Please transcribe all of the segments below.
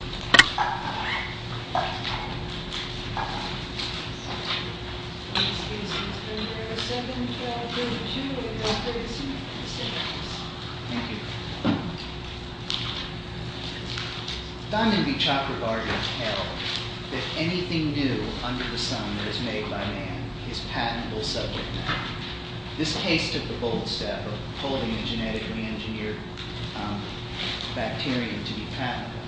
Thank you. Dandenby Chakrabarty held that anything new under the sun that is made by man is patentable subject matter. This case took the bold step of holding a genetically engineered bacterium to be patentable.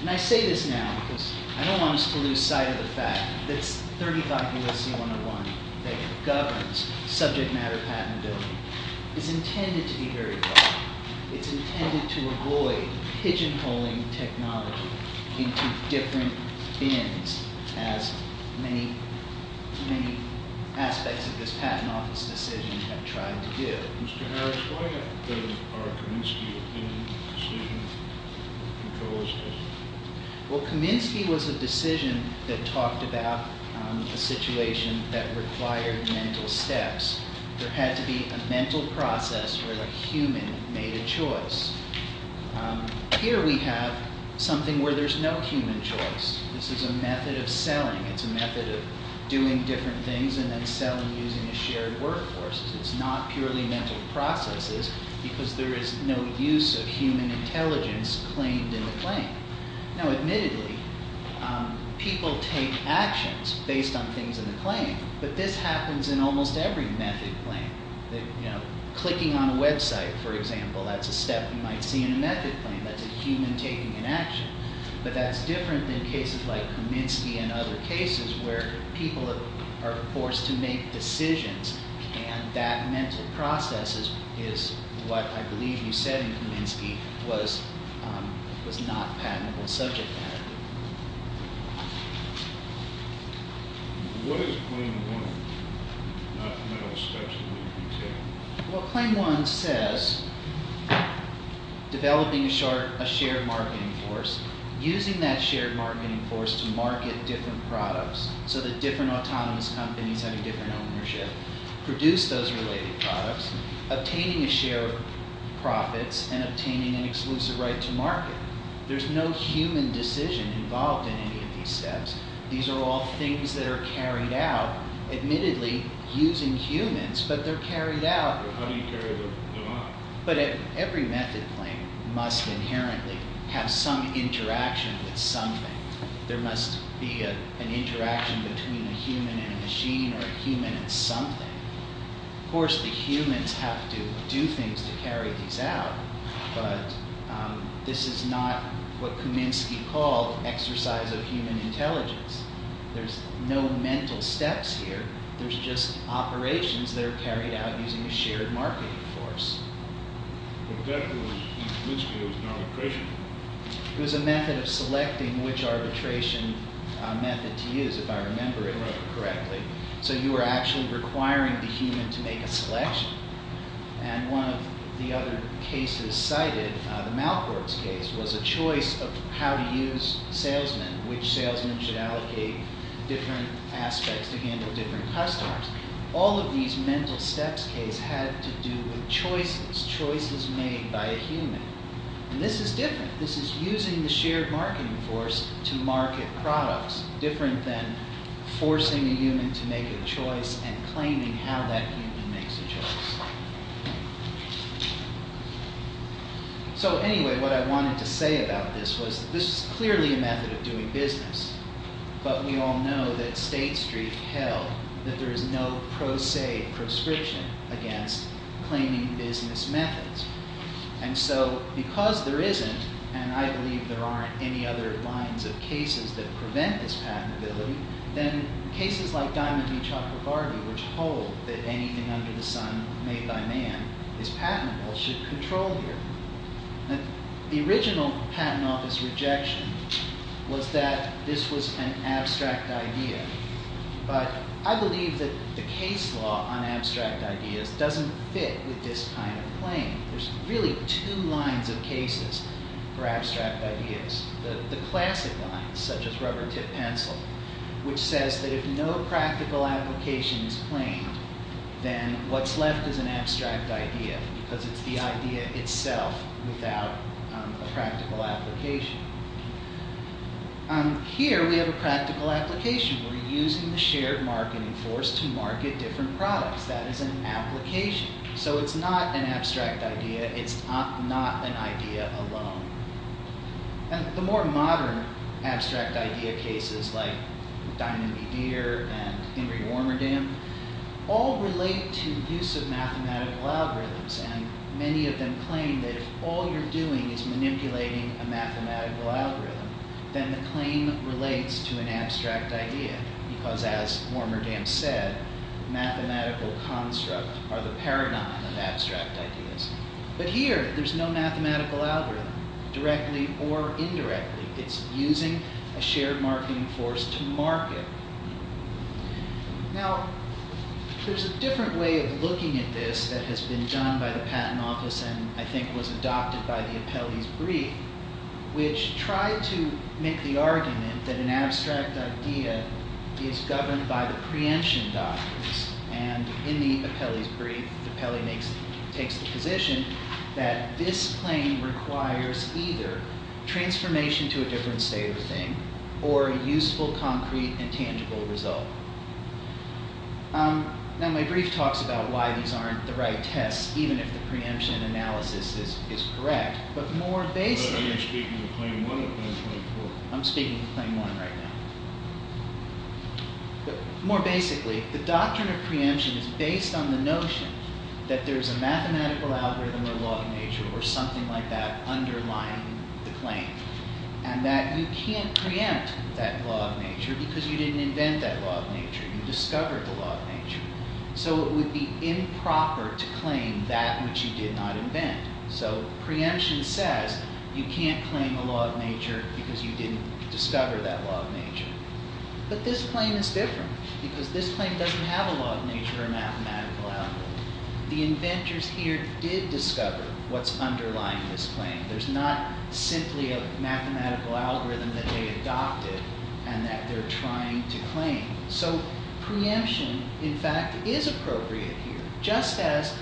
And I say this now because I don't want us to lose sight of the fact that 35 U.S.C. 101 that governs subject matter patentability is intended to be very broad. It's intended to avoid pigeonholing technology into different bins as many aspects of this Patent Office decision have tried to do. Mr. Harris, why are Kaminsky opinion decision controls? Well, Kaminsky was a decision that talked about a situation that required mental steps. There had to be a mental process where the human made a choice. Here we have something where there's no human choice. This is a method of selling. It's a method of doing different things and then selling using a shared workforce. It's not purely mental processes because there is no use of human intelligence claimed in the claim. Now, admittedly, people take actions based on things in the claim. But this happens in almost every method claim. Clicking on a website, for example, that's a step you might see in a method claim. That's a human taking an action. But that's different than cases like Kaminsky and other cases where people are forced to make decisions and that mental process is what I believe you said in Kaminsky was not patentable subject matter. What is Claim 1, not mental steps? Well, Claim 1 says developing a shared marketing force, using that shared marketing force to market different products so that different autonomous companies have a different ownership, produce those related products, obtaining a share of profits, and obtaining an exclusive right to market. There's no human decision involved in any of these steps. These are all things that are carried out, admittedly, using humans, but they're carried out. But every method claim must inherently have some interaction with something. There must be an interaction between a human and a machine or a human and something. Of course, the humans have to do things to carry these out, but this is not what Kaminsky called exercise of human intelligence. There's no mental steps here. There's just operations that are carried out using a shared marketing force. But that was, in Kaminsky, it was an arbitration. It was a method of selecting which arbitration method to use, if I remember it correctly. So you were actually requiring the human to make a selection. And one of the other cases cited, the Malkorts case, was a choice of how to use salesmen, which salesmen should allocate different aspects to handle different customers. All of these mental steps case had to do with choices, choices made by a human. And this is different. This is using the shared marketing force to market products, different than forcing a human to make a choice and claiming how that human makes a choice. So anyway, what I wanted to say about this was this is clearly a method of doing business. But we all know that State Street held that there is no pro se proscription against claiming business methods. And so, because there isn't, and I believe there aren't any other lines of cases that prevent this patentability, then cases like Diamond v. Chakravarti, which hold that anything under the sun made by man is patentable, should control here. The original patent office rejection was that this was an abstract idea. But I believe that the case law on abstract ideas doesn't fit with this kind of claim. There's really two lines of cases for abstract ideas. The classic line, such as rubber-tipped pencil, which says that if no practical application is claimed, then what's left is an abstract idea, because it's the idea itself without a practical application. Here, we have a practical application. We're using the shared marketing force to market different products. That is an application. So it's not an abstract idea. It's not an idea alone. The more modern abstract idea cases, like Diamond v. Deere and Henry Warmerdame, all relate to the use of mathematical algorithms. Many of them claim that if all you're doing is manipulating a mathematical algorithm, then the claim relates to an abstract idea, because as Warmerdame said, mathematical constructs are the paradigm of abstract ideas. But here, there's no mathematical algorithm, directly or indirectly. It's using a shared marketing force to market. Now, there's a different way of looking at this that has been done by the Patent Office and I think was adopted by the Apelli's brief, which tried to make the argument that an abstract idea is governed by the preemption doctrines. In the Apelli's brief, Apelli takes the position that this claim requires either a transformation to a different state of a thing, or a useful, concrete, and tangible result. Now, my brief talks about why these aren't the right tests, even if the preemption analysis is correct, but more basically... But are you speaking of Claim 1 or Claim 24? I'm speaking of Claim 1 right now. But more basically, the doctrine of preemption is based on the notion that there's a mathematical algorithm or law of nature or something like that underlying the claim. And that you can't preempt that law of nature because you didn't invent that law of nature. You discovered the law of nature. So it would be improper to claim that which you did not invent. So preemption says you can't claim a law of nature because you didn't discover that law of nature. But this claim is different, because this claim doesn't have a law of nature or mathematical algorithm. The inventors here did discover what's underlying this claim. There's not simply a mathematical algorithm that they adopted and that they're trying to claim. So preemption, in fact, is appropriate here. Just as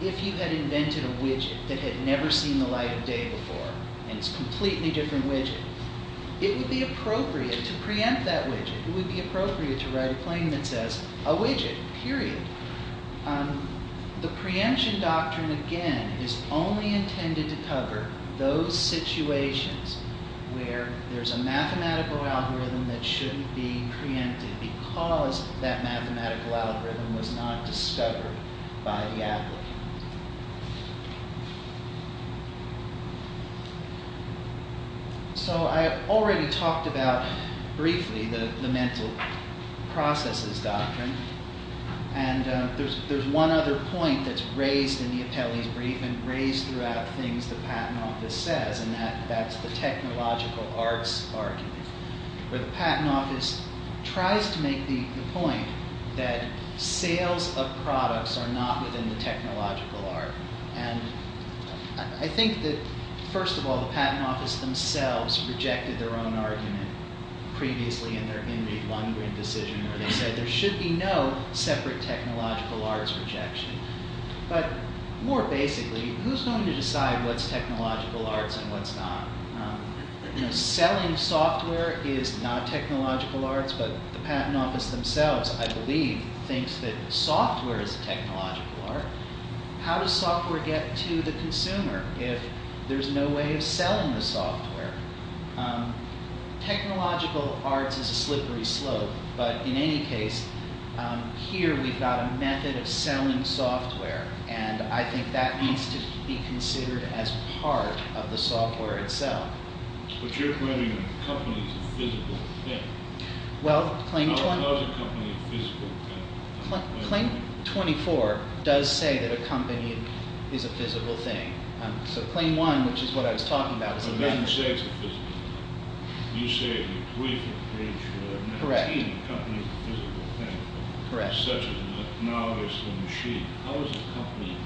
if you had invented a widget that had never seen the light of day before, and it's a completely different widget. It would be appropriate to preempt that widget. It would be appropriate to write a claim that says, a widget, period. The preemption doctrine, again, is only intended to cover those situations where there's a mathematical algorithm that shouldn't be preempted because that mathematical algorithm was not discovered by the applicant. So I already talked about, briefly, the mental processes doctrine, and there's one other point that's raised in the Apelli's brief and raised throughout things the Patent Office says, and that's the technological arts argument, where the Patent Office tries to make the point that sales of products are not within the technological art. And I think that, first of all, the Patent Office themselves rejected their own argument previously in their Henry Lundgren decision where they said there should be no separate technological arts rejection. But more basically, who's going to decide what's technological arts and what's not? Selling software is not technological arts, but the Patent Office themselves, I believe, thinks that software is a technological art. How does software get to the consumer if there's no way of selling the software? Technological arts is a slippery slope, but in any case, here we've got a method of selling software, and I think that needs to be considered as part of the software itself. But you're claiming that a company is a physical thing. How is a company a physical thing? Claim 24 does say that a company is a physical thing. So Claim 1, which is what I was talking about, is a method. But then you say it's a physical thing. You say in the brief you mentioned that a company is a physical thing, such as an analogous to a machine. How is a company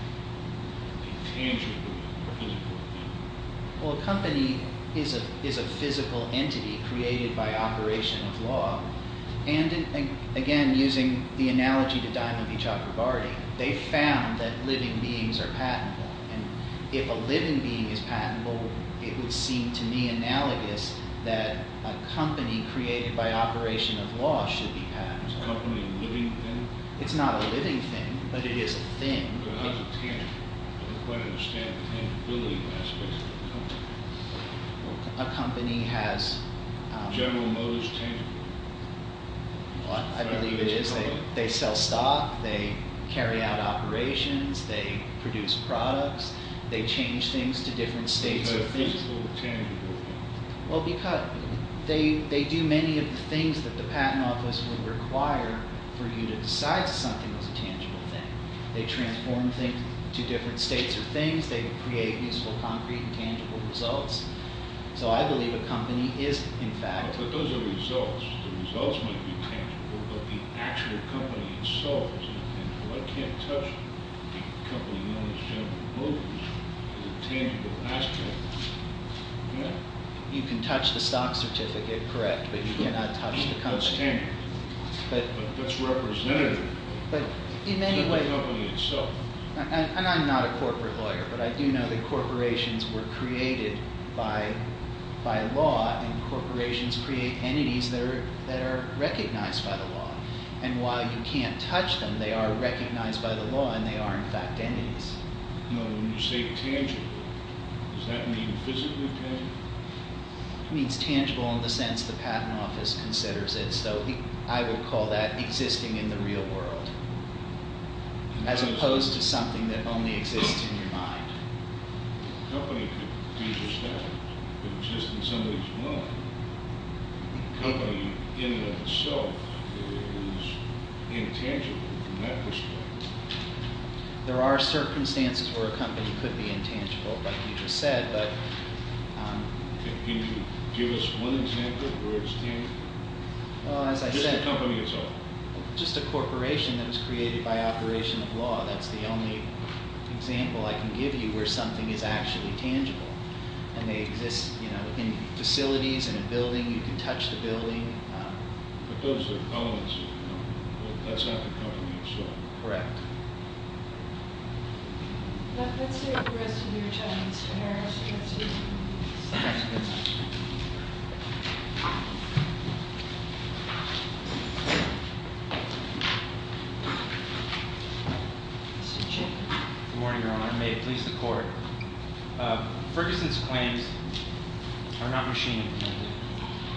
a tangible physical thing? Well, a company is a physical entity created by operation of law. And again, using the analogy to Diamond V. Chakrabarty, they found that living beings are patentable. And if a living being is patentable, it would seem to me analogous that a company created by operation of law should be patentable. Is a company a living thing? It's not a living thing, but it is a thing. How is it tangible? I don't quite understand the tangibility aspect of a company. A company has... General motives tangible. I believe it is. They sell stock. They carry out operations. They produce products. They change things to different states of things. Why is it a physical tangible thing? Well, because they do many of the things that the patent office would require for you to decide something was a tangible thing. They transform things to different states of things. They create useful, concrete, and tangible results. So I believe a company is, in fact... But those are results. The results might be tangible, but the actual company itself is a tangible thing. So I can't touch the company's general motives as a tangible aspect. You can touch the stock certificate, correct, but you cannot touch the company. That's tangible. But that's representative. It's not the company itself. And I'm not a corporate lawyer, but I do know that corporations were created by law, and corporations create entities that are recognized by the law. And while you can't touch them, they are recognized by the law, and they are, in fact, entities. When you say tangible, does that mean physically tangible? It means tangible in the sense the patent office considers it. So I would call that existing in the real world, as opposed to something that only exists in your mind. A company could be just that. It could exist in somebody's mind. A company in and of itself is intangible from that perspective. There are circumstances where a company could be intangible, like you just said. Can you give us one example where it's tangible? Just the company itself. Just a corporation that was created by operation of law. That's the only example I can give you where something is actually tangible. And they exist in facilities, in a building. You can touch the building. But those are elements of the company. That's not the company itself. Correct. Let's hear from the rest of you gentlemen. Mr. Harris, you want to say something? Mr. Jacob. Good morning, Your Honor. May it please the Court. Ferguson's claims are not machine-invented.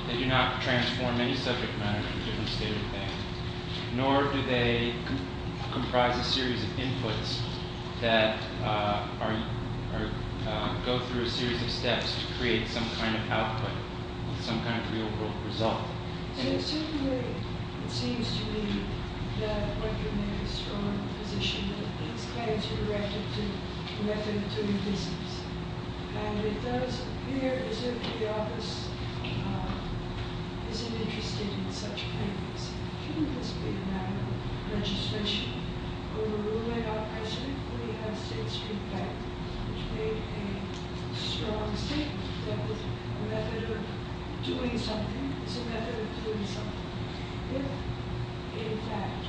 They do not transform any subject matter into a different state of the bank, nor do they comprise a series of inputs that go through a series of steps to create some kind of output, some kind of real-world result. It seems to me that what you're making is strong in the position that these claims are directed to the business. And it does appear as if the office isn't interested in such claims. Shouldn't this be a matter of registration? We're ruling out precedent. We have State Street Bank, which made a strong statement that a method of doing something is a method of doing something. If, in fact,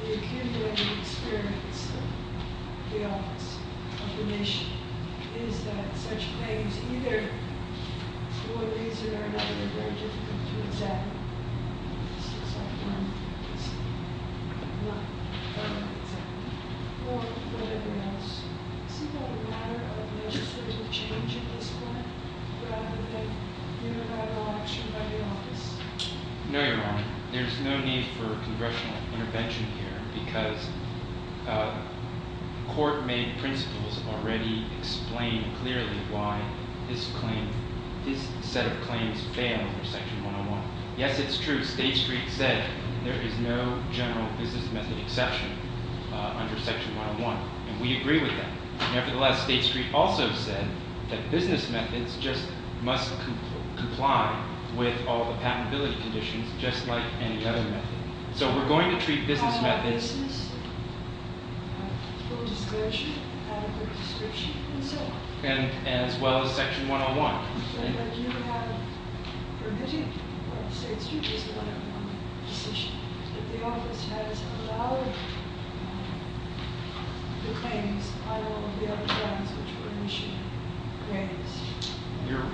the accumulated experience of the office, of the nation, is that such claims either for a reason or another are difficult to examine. This is a firm decision. I'm not going to examine it. Or whatever else. Isn't that a matter of legislative change at this point, rather than unilateral action by the office? No, Your Honor. There's no need for congressional intervention here, because court-made principles already explain clearly why this set of claims fail under Section 101. Yes, it's true. State Street said there is no general business method exception under Section 101. And we agree with that. Just like any other method. So we're going to treat business methods- Out of business, full discretion, adequate discretion, and so on. And as well as Section 101. But you have permitted what State Street has done in one position. That the office has allowed the claims, I don't know, the other ones which were initially raised.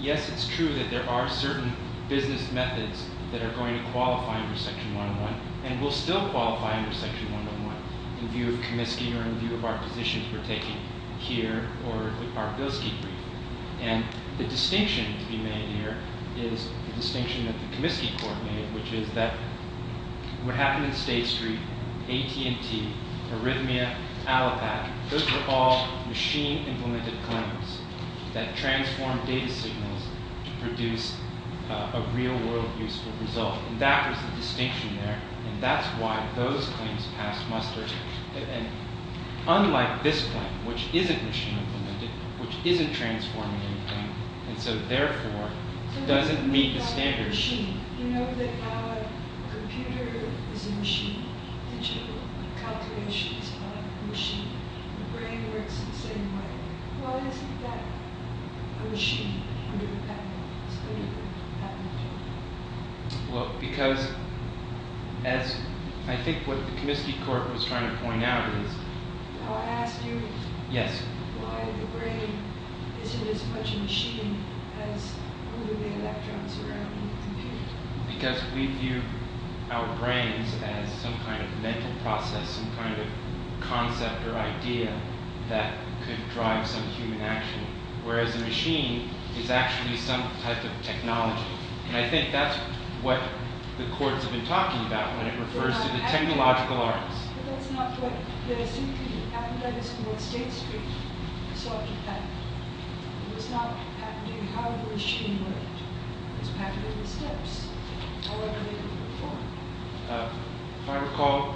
Yes, it's true that there are certain business methods that are going to qualify under Section 101. And will still qualify under Section 101. In view of Comiskey, or in view of our positions we're taking here, or our Bilski brief. And the distinction to be made here is the distinction that the Comiskey court made, which is that what happened in State Street, AT&T, Arrhythmia, Allopat, those were all machine-implemented claims that transformed data signals to produce a real-world useful result. And that was the distinction there. And that's why those claims passed muster. And unlike this claim, which isn't machine-implemented, which isn't transforming anything, and so therefore doesn't meet the standards- You know that a computer is a machine. Digital calculations are a machine. The brain works the same way. Why isn't that a machine under the patent? It's under the patent. Well, because, as I think what the Comiskey court was trying to point out is- I'll ask you- Yes. Why the brain isn't as much a machine as the electrons around the computer. Because we view our brains as some kind of mental process, some kind of concept or idea that could drive some human action. Whereas a machine is actually some type of technology. And I think that's what the court's been talking about when it refers to the technological arts. But that's not what- I think that is what State Street sought to patent. It was not patenting how the machine worked. It was patenting the steps, however they were performed. If I recall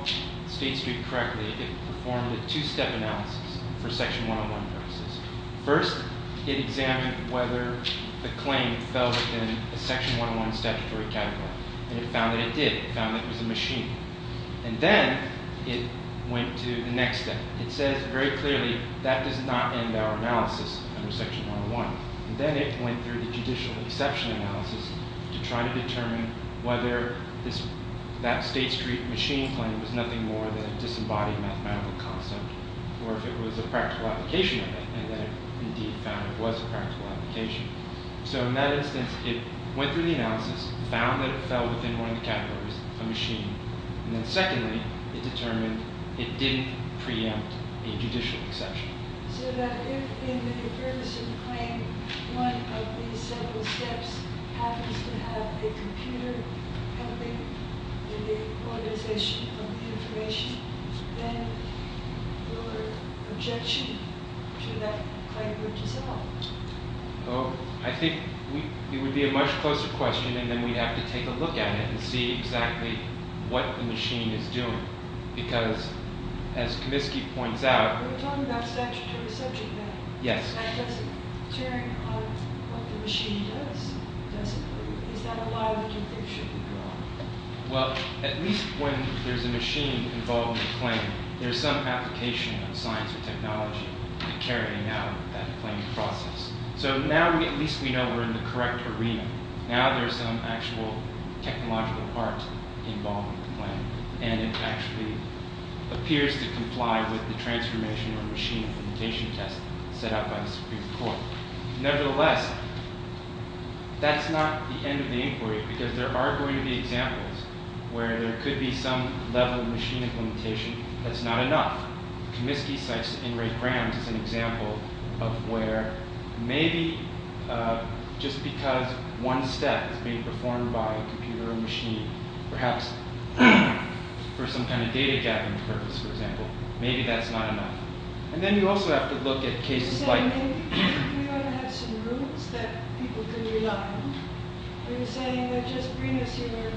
State Street correctly, it performed a two-step analysis for Section 101 purposes. First, it examined whether the claim fell within a Section 101 statutory category. And it found that it did. It found that it was a machine. And then it went to the next step. It says very clearly, that does not end our analysis under Section 101. And then it went through the judicial exception analysis to try to determine whether that State Street machine claim was nothing more than a disembodied mathematical concept. Or if it was a practical application of it. And then it indeed found it was a practical application. So in that instance, it went through the analysis, found that it fell within one of the categories, a machine. And then secondly, it determined it didn't preempt a judicial exception. So that if in the Ferguson claim, one of these several steps happens to have a computer helping in the organization of the information, then your objection to that claim would dissolve. I think it would be a much closer question, and then we'd have to take a look at it and see exactly what the machine is doing. Because, as Comiskey points out... You're talking about statutory subject matter. Yes. And does tearing apart what the machine does, is that a lie that you think should be brought? Well, at least when there's a machine involved in a claim, there's some application of science or technology carrying out that claim process. So now at least we know we're in the correct arena. Now there's some actual technological part involved in the claim. And it actually appears to comply with the transformation or machine implementation test set out by the Supreme Court. Nevertheless, that's not the end of the inquiry. Because there are going to be examples where there could be some level of machine implementation that's not enough. Comiskey cites Ingrate Brand as an example of where maybe just because one step is being performed by a computer or machine, perhaps for some kind of data-gathering purpose, for example, maybe that's not enough. And then you also have to look at cases like... You're saying we ought to have some rules that people can rely on. You're saying that just bring us your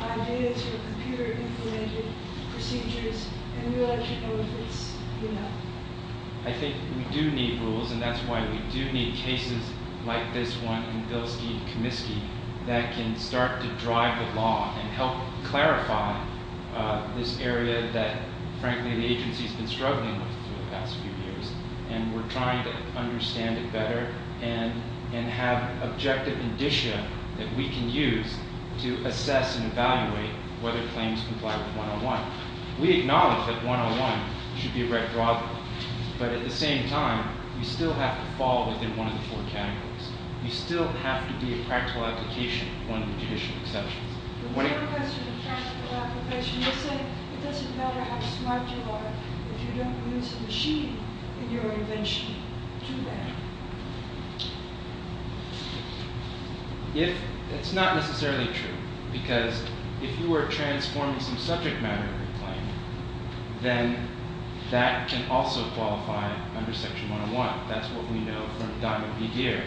ideas for computer-implemented procedures, and we'll let you know if it's enough. I think we do need rules, and that's why we do need cases like this one in Bilski and Comiskey that can start to drive the law and help clarify this area that, frankly, the agency's been struggling with for the past few years. And we're trying to understand it better and have objective indicia that we can use to assess and evaluate whether claims comply with 101. We acknowledge that 101 should be a red draw. But at the same time, we still have to fall within one of the four categories. We still have to be a practical application of one of the judicial exceptions. The four questions of practical application, you say it doesn't matter how smart you are if you don't use a machine in your invention to do that. It's not necessarily true, because if you were transforming some subject matter of a claim, then that can also qualify under Section 101. That's what we know from Diamond v. Deere,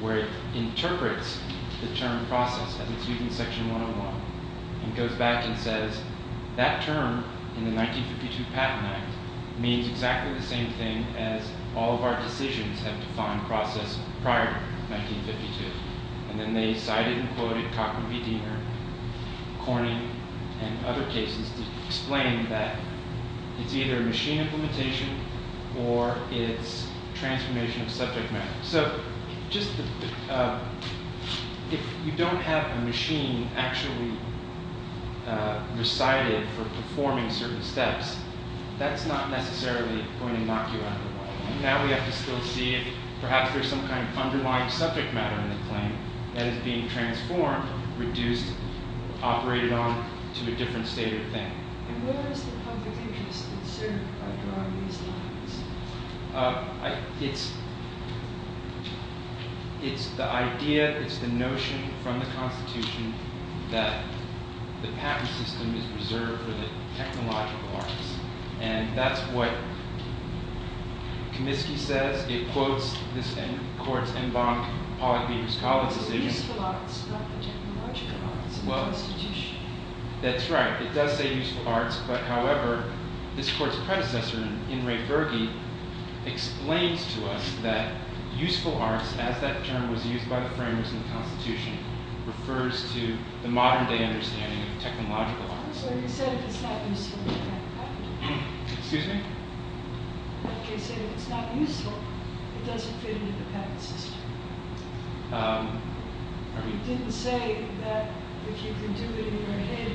where it interprets the term process as it's used in Section 101. It goes back and says that term in the 1952 Patent Act means exactly the same thing as all of our decisions have defined process prior to 1952. And then they cited and quoted Cockney v. Deere, Corning, and other cases to explain that it's either machine implementation or it's transformation of subject matter. So, if you don't have a machine actually recited for performing certain steps, that's not necessarily going to knock you out of the water. Now we have to still see if perhaps there's some kind of underlying subject matter in the claim that is being transformed, reduced, operated on to a different state or thing. And where is the public interest concerned by drawing these lines? It's the idea, it's the notion from the Constitution that the patent system is reserved for the technological arts. And that's what Comiskey says, it quotes this court's en banc, Pollock v. Colvin's decision. Useful arts, not the technological arts of the institution. That's right, it does say useful arts, but however, this court's predecessor, In re Verge, explains to us that useful arts, as that term was used by the framers in the Constitution, refers to the modern day understanding of technological arts. So he said if it's not useful, it doesn't fit into the patent system. He didn't say that if you can do it in your head,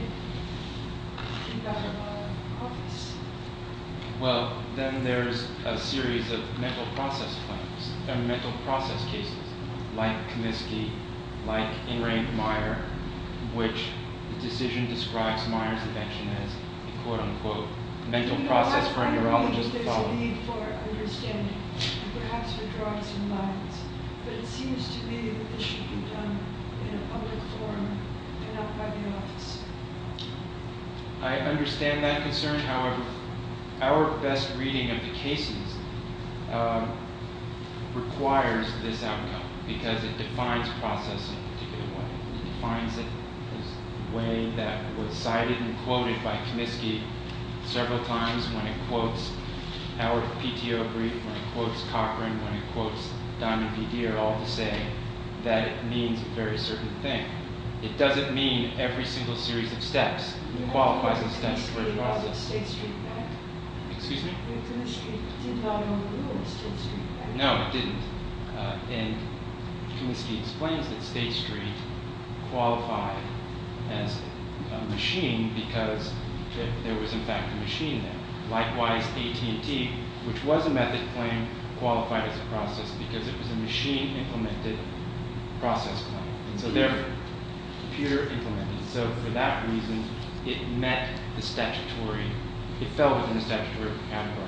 you've got a lot of office. Well, then there's a series of mental process claims, or mental process cases, like Comiskey, like In re Meyer, which the decision describes Meyer's invention as a quote-unquote mental process for a neurologist to follow. Perhaps there's a need for understanding, and perhaps for drawing some lines. But it seems to me that this should be done in a public forum, and not by the officer. I understand that concern, however, our best reading of the cases requires this outcome, because it defines process in a particular way. It defines it in a way that was cited and quoted by Comiskey several times, when it quotes Howard of PTO brief, when it quotes Cochran, when it quotes Diamond v. Deere, all to say that it means a very certain thing. It doesn't mean every single series of steps qualifies as steps for the process. No, it didn't. And Comiskey explains that State Street qualified as a machine because there was, in fact, a machine there. Likewise, AT&T, which was a method claim, qualified as a process because it was a machine-implemented process claim. And so therefore, computer-implemented. So for that reason, it met the statutory, it fell within the statutory category.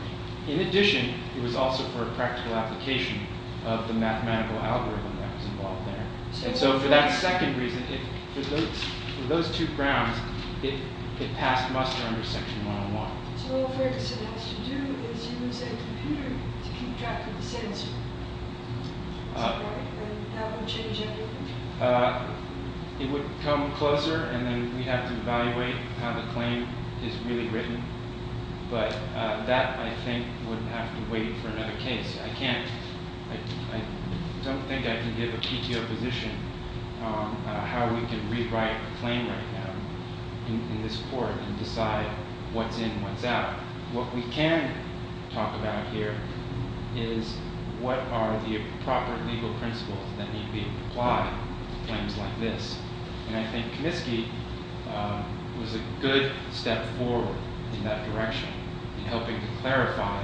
In addition, it was also for a practical application of the mathematical algorithm that was involved there. And so for that second reason, for those two grounds, it passed muster under section 101. So all Ferguson has to do is use a computer to keep track of the sensor, and that wouldn't change anything? It would come closer, and then we'd have to evaluate how the claim is really written. But that, I think, would have to wait for another case. I don't think I can give a PTO position on how we can rewrite a claim right now in this court and decide what's in and what's out. What we can talk about here is what are the proper legal principles that need to be applied to claims like this. And I think Comiskey was a good step forward in that direction in helping to clarify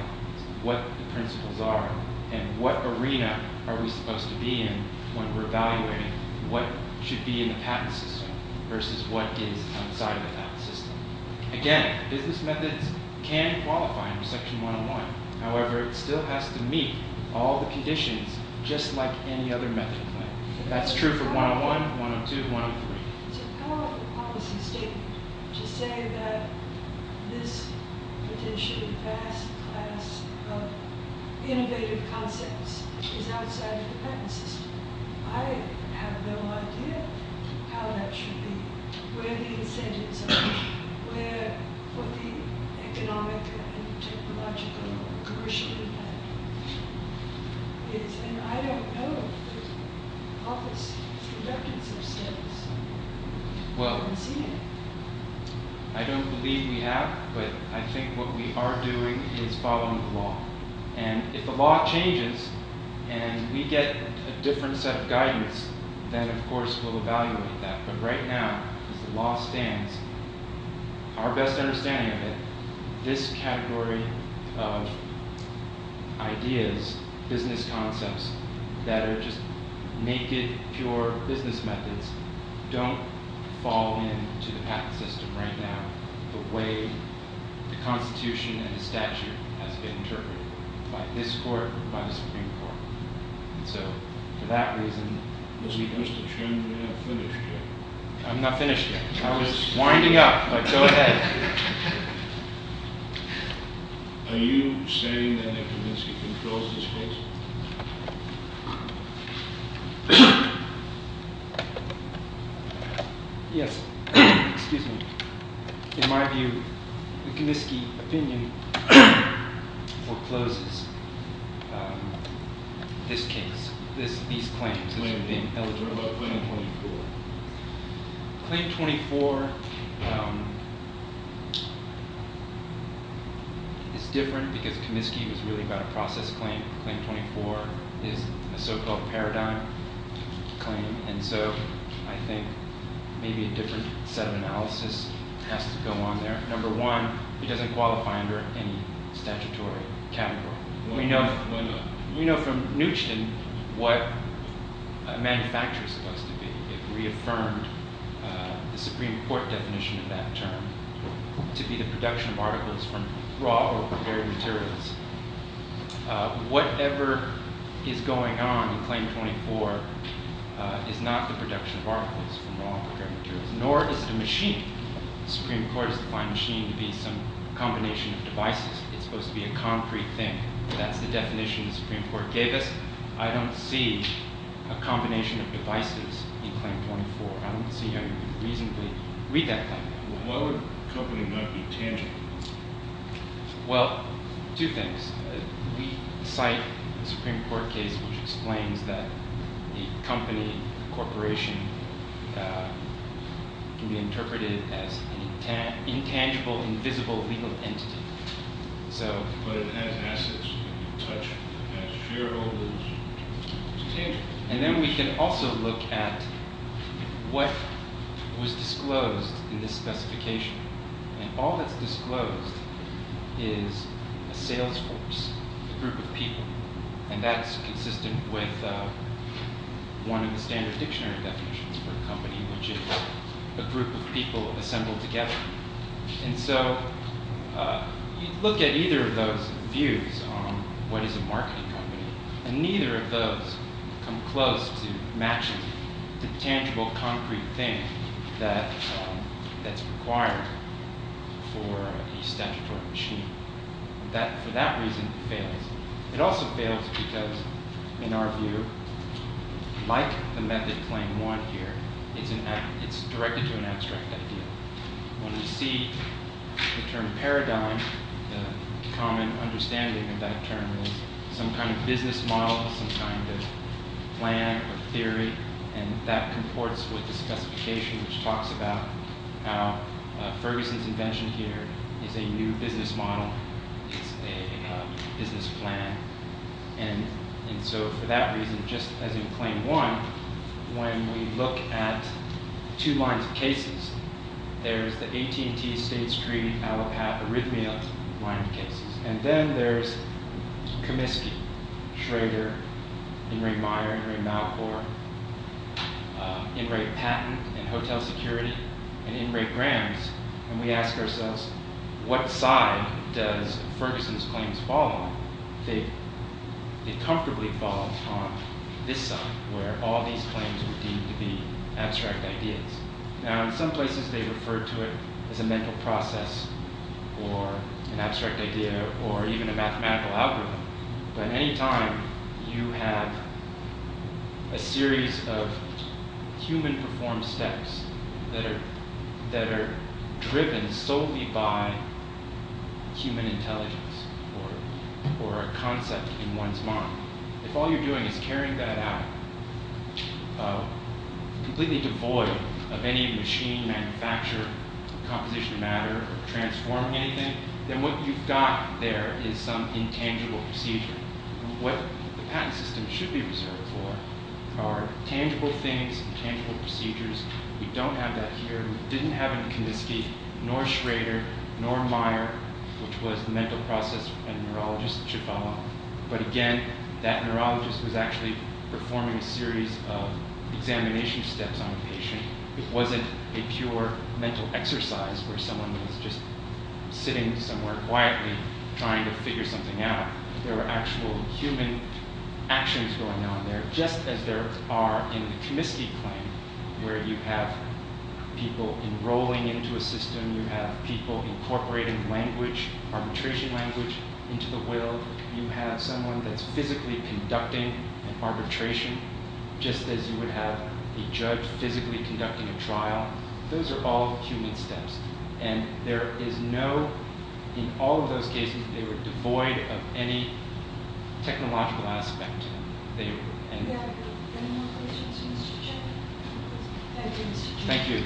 what the principles are and what arena are we supposed to be in when we're evaluating what should be in the patent system versus what is outside of the patent system. Again, business methods can qualify under section 101. However, it still has to meet all the conditions just like any other method claim. That's true for 101, 102, 103. It's a powerful policy statement to say that this potentially vast class of innovative concepts is outside of the patent system. I have no idea how that should be, where the incentives are, what the economic and technological or commercial impact is. And I don't know if there's a policy for that in some states. I don't believe we have, but I think what we are doing is following the law. And if the law changes and we get a different set of guidance, then, of course, we'll evaluate that. But right now, as the law stands, our best understanding of it, this category of ideas, business concepts that are just naked, pure business methods, don't fall into the patent system right now the way the Constitution and the statute has been interpreted by this court and by the Supreme Court. And so, for that reason... Mr. Chairman, you're not finished yet. I'm not finished yet. I was winding up, but go ahead. Are you saying that Wikomiski controls this case? Yes. Excuse me. In my view, the Wikomiski opinion forecloses this case, these claims as being eligible. Claim 24. Claim 24 is different because Wikomiski was really about a process claim. Claim 24 is a so-called paradigm claim, and so I think maybe a different set of analysis has to go on there. Number one, it doesn't qualify under any statutory category. We know from Neusten what a manufacturer is supposed to be. It reaffirmed the Supreme Court definition of that term to be the production of articles from raw or prepared materials. Whatever is going on in Claim 24 is not the production of articles from raw or prepared materials, nor is it a machine. The Supreme Court has defined machine to be some combination of devices. It's supposed to be a concrete thing. That's the definition the Supreme Court gave us. I don't see a combination of devices in Claim 24. I don't see how you could reasonably read that claim. Well, why would a company not be tangible? Well, two things. We cite a Supreme Court case which explains that a company, a corporation, can be interpreted as an intangible, invisible legal entity. But it has assets. It has shareholders. It's tangible. And then we can also look at what was disclosed in this specification. And all that's disclosed is a sales force, a group of people. And that's consistent with one of the standard dictionary definitions for a company, which is a group of people assembled together. And so you look at either of those views on what is a marketing company, and neither of those come close to matching the tangible, concrete thing that's required for a statutory machine. For that reason, it fails. It also fails because, in our view, like the method Claim 1 here, it's directed to an abstract idea. When we see the term paradigm, the common understanding of that term is some kind of business model, some kind of plan or theory. And that comports with the specification which talks about how Ferguson's invention here is a new business model. It's a business plan. And so for that reason, just as in Claim 1, when we look at two lines of cases, there's the AT&T, State Street, Allopath, Arrhythmia line of cases. And then there's Comiskey, Schrader, Ingray-Meyer, Ingray-Malcor, Ingray-Patent, and Hotel Security, and Ingray-Grams. And we ask ourselves, what side does Ferguson's claims fall on? They comfortably fall on this side, where all these claims are deemed to be abstract ideas. Now, in some places they refer to it as a mental process or an abstract idea or even a mathematical algorithm. But any time you have a series of human-performed steps that are driven solely by human intelligence or a concept in one's mind, if all you're doing is carrying that out completely devoid of any machine, manufacture, composition of matter, or transforming anything, then what you've got there is some intangible procedure. What the patent system should be reserved for are tangible things, tangible procedures. We don't have that here. We didn't have in Comiskey, nor Schrader, nor Meyer, which was the mental process and neurologist that should follow. But again, that neurologist was actually performing a series of examination steps on a patient. It wasn't a pure mental exercise where someone was just sitting somewhere quietly trying to figure something out. There were actual human actions going on there, just as there are in the Comiskey claim, where you have people enrolling into a system, you have people incorporating language, arbitration language, into the will. You have someone that's physically conducting an arbitration, just as you would have a judge physically conducting a trial. Those are all human steps. And there is no – in all of those cases, they were devoid of any technological aspect. Any more questions for Mr. Chairman? Thank you, Mr. Chairman. Thank you.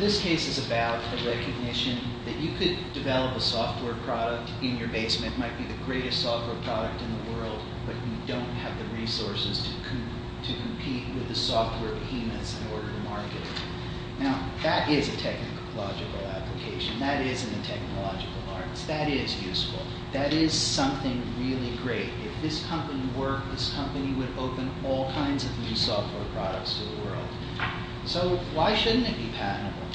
This case is about the recognition that you could develop a software product in your basement. It might be the greatest software product in the world, but you don't have the resources to compete with the software behemoths in order to market it. Now, that is a technological application. That is in the technological arts. That is useful. That is something really great. If this company worked, this company would open all kinds of new software products to the world. So why shouldn't it be patentable?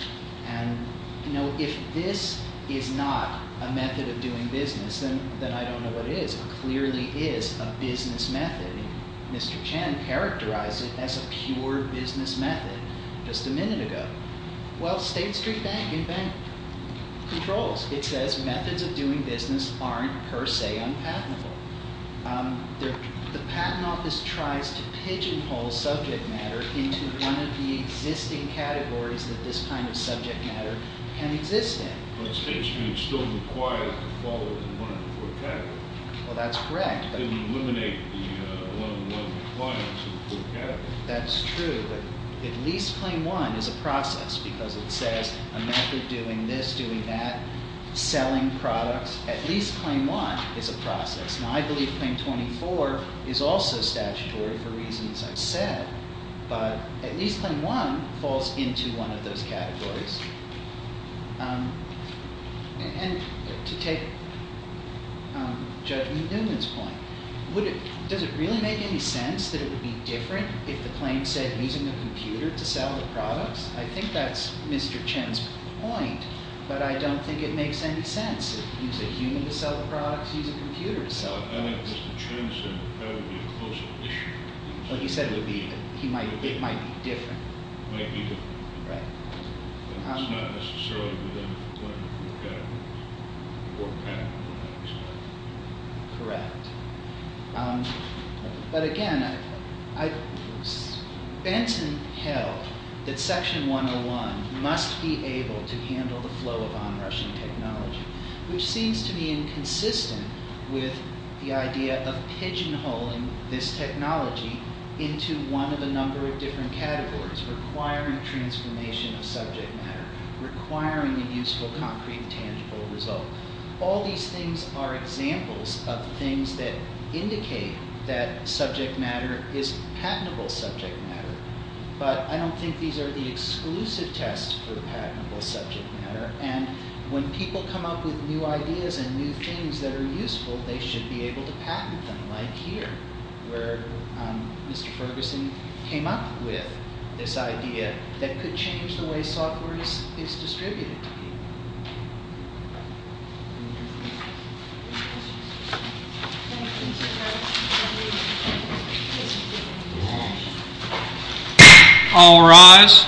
And, you know, if this is not a method of doing business, then I don't know what is. It clearly is a business method. Mr. Chan characterized it as a pure business method just a minute ago. Well, State Street Bank controls. It says methods of doing business aren't per se unpatentable. The Patent Office tries to pigeonhole subject matter into one of the existing categories that this kind of subject matter can exist in. But State Street still requires to follow the 104th category. Well, that's correct. It would eliminate the 111 compliance of the fourth category. That's true, but at least claim one is a process because it says a method doing this, doing that, selling products. At least claim one is a process. Now, I believe claim 24 is also statutory for reasons I've said, but at least claim one falls into one of those categories. And to take Judge Newman's point, does it really make any sense that it would be different if the claim said using a computer to sell the products? I think that's Mr. Chan's point, but I don't think it makes any sense. Use a human to sell the products, use a computer to sell the products. I think what Mr. Chan said would probably be a closer issue. Well, he said it might be different. Might be different. Right. It's not necessarily within the category. Correct. But again, Benson held that section 101 must be able to handle the flow of onrushing technology, which seems to be inconsistent with the idea of pigeonholing this technology into one of a number of different categories, requiring transformation of subject matter, requiring a useful, concrete, tangible result. All these things are examples of things that indicate that subject matter is patentable subject matter, but I don't think these are the exclusive tests for patentable subject matter. And when people come up with new ideas and new things that are useful, they should be able to patent them, like here, where Mr. Ferguson came up with this idea that could change the way software is distributed to people. All rise.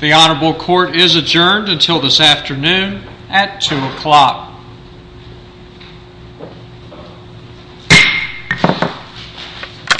The Honorable Court is adjourned until this afternoon at 2 o'clock.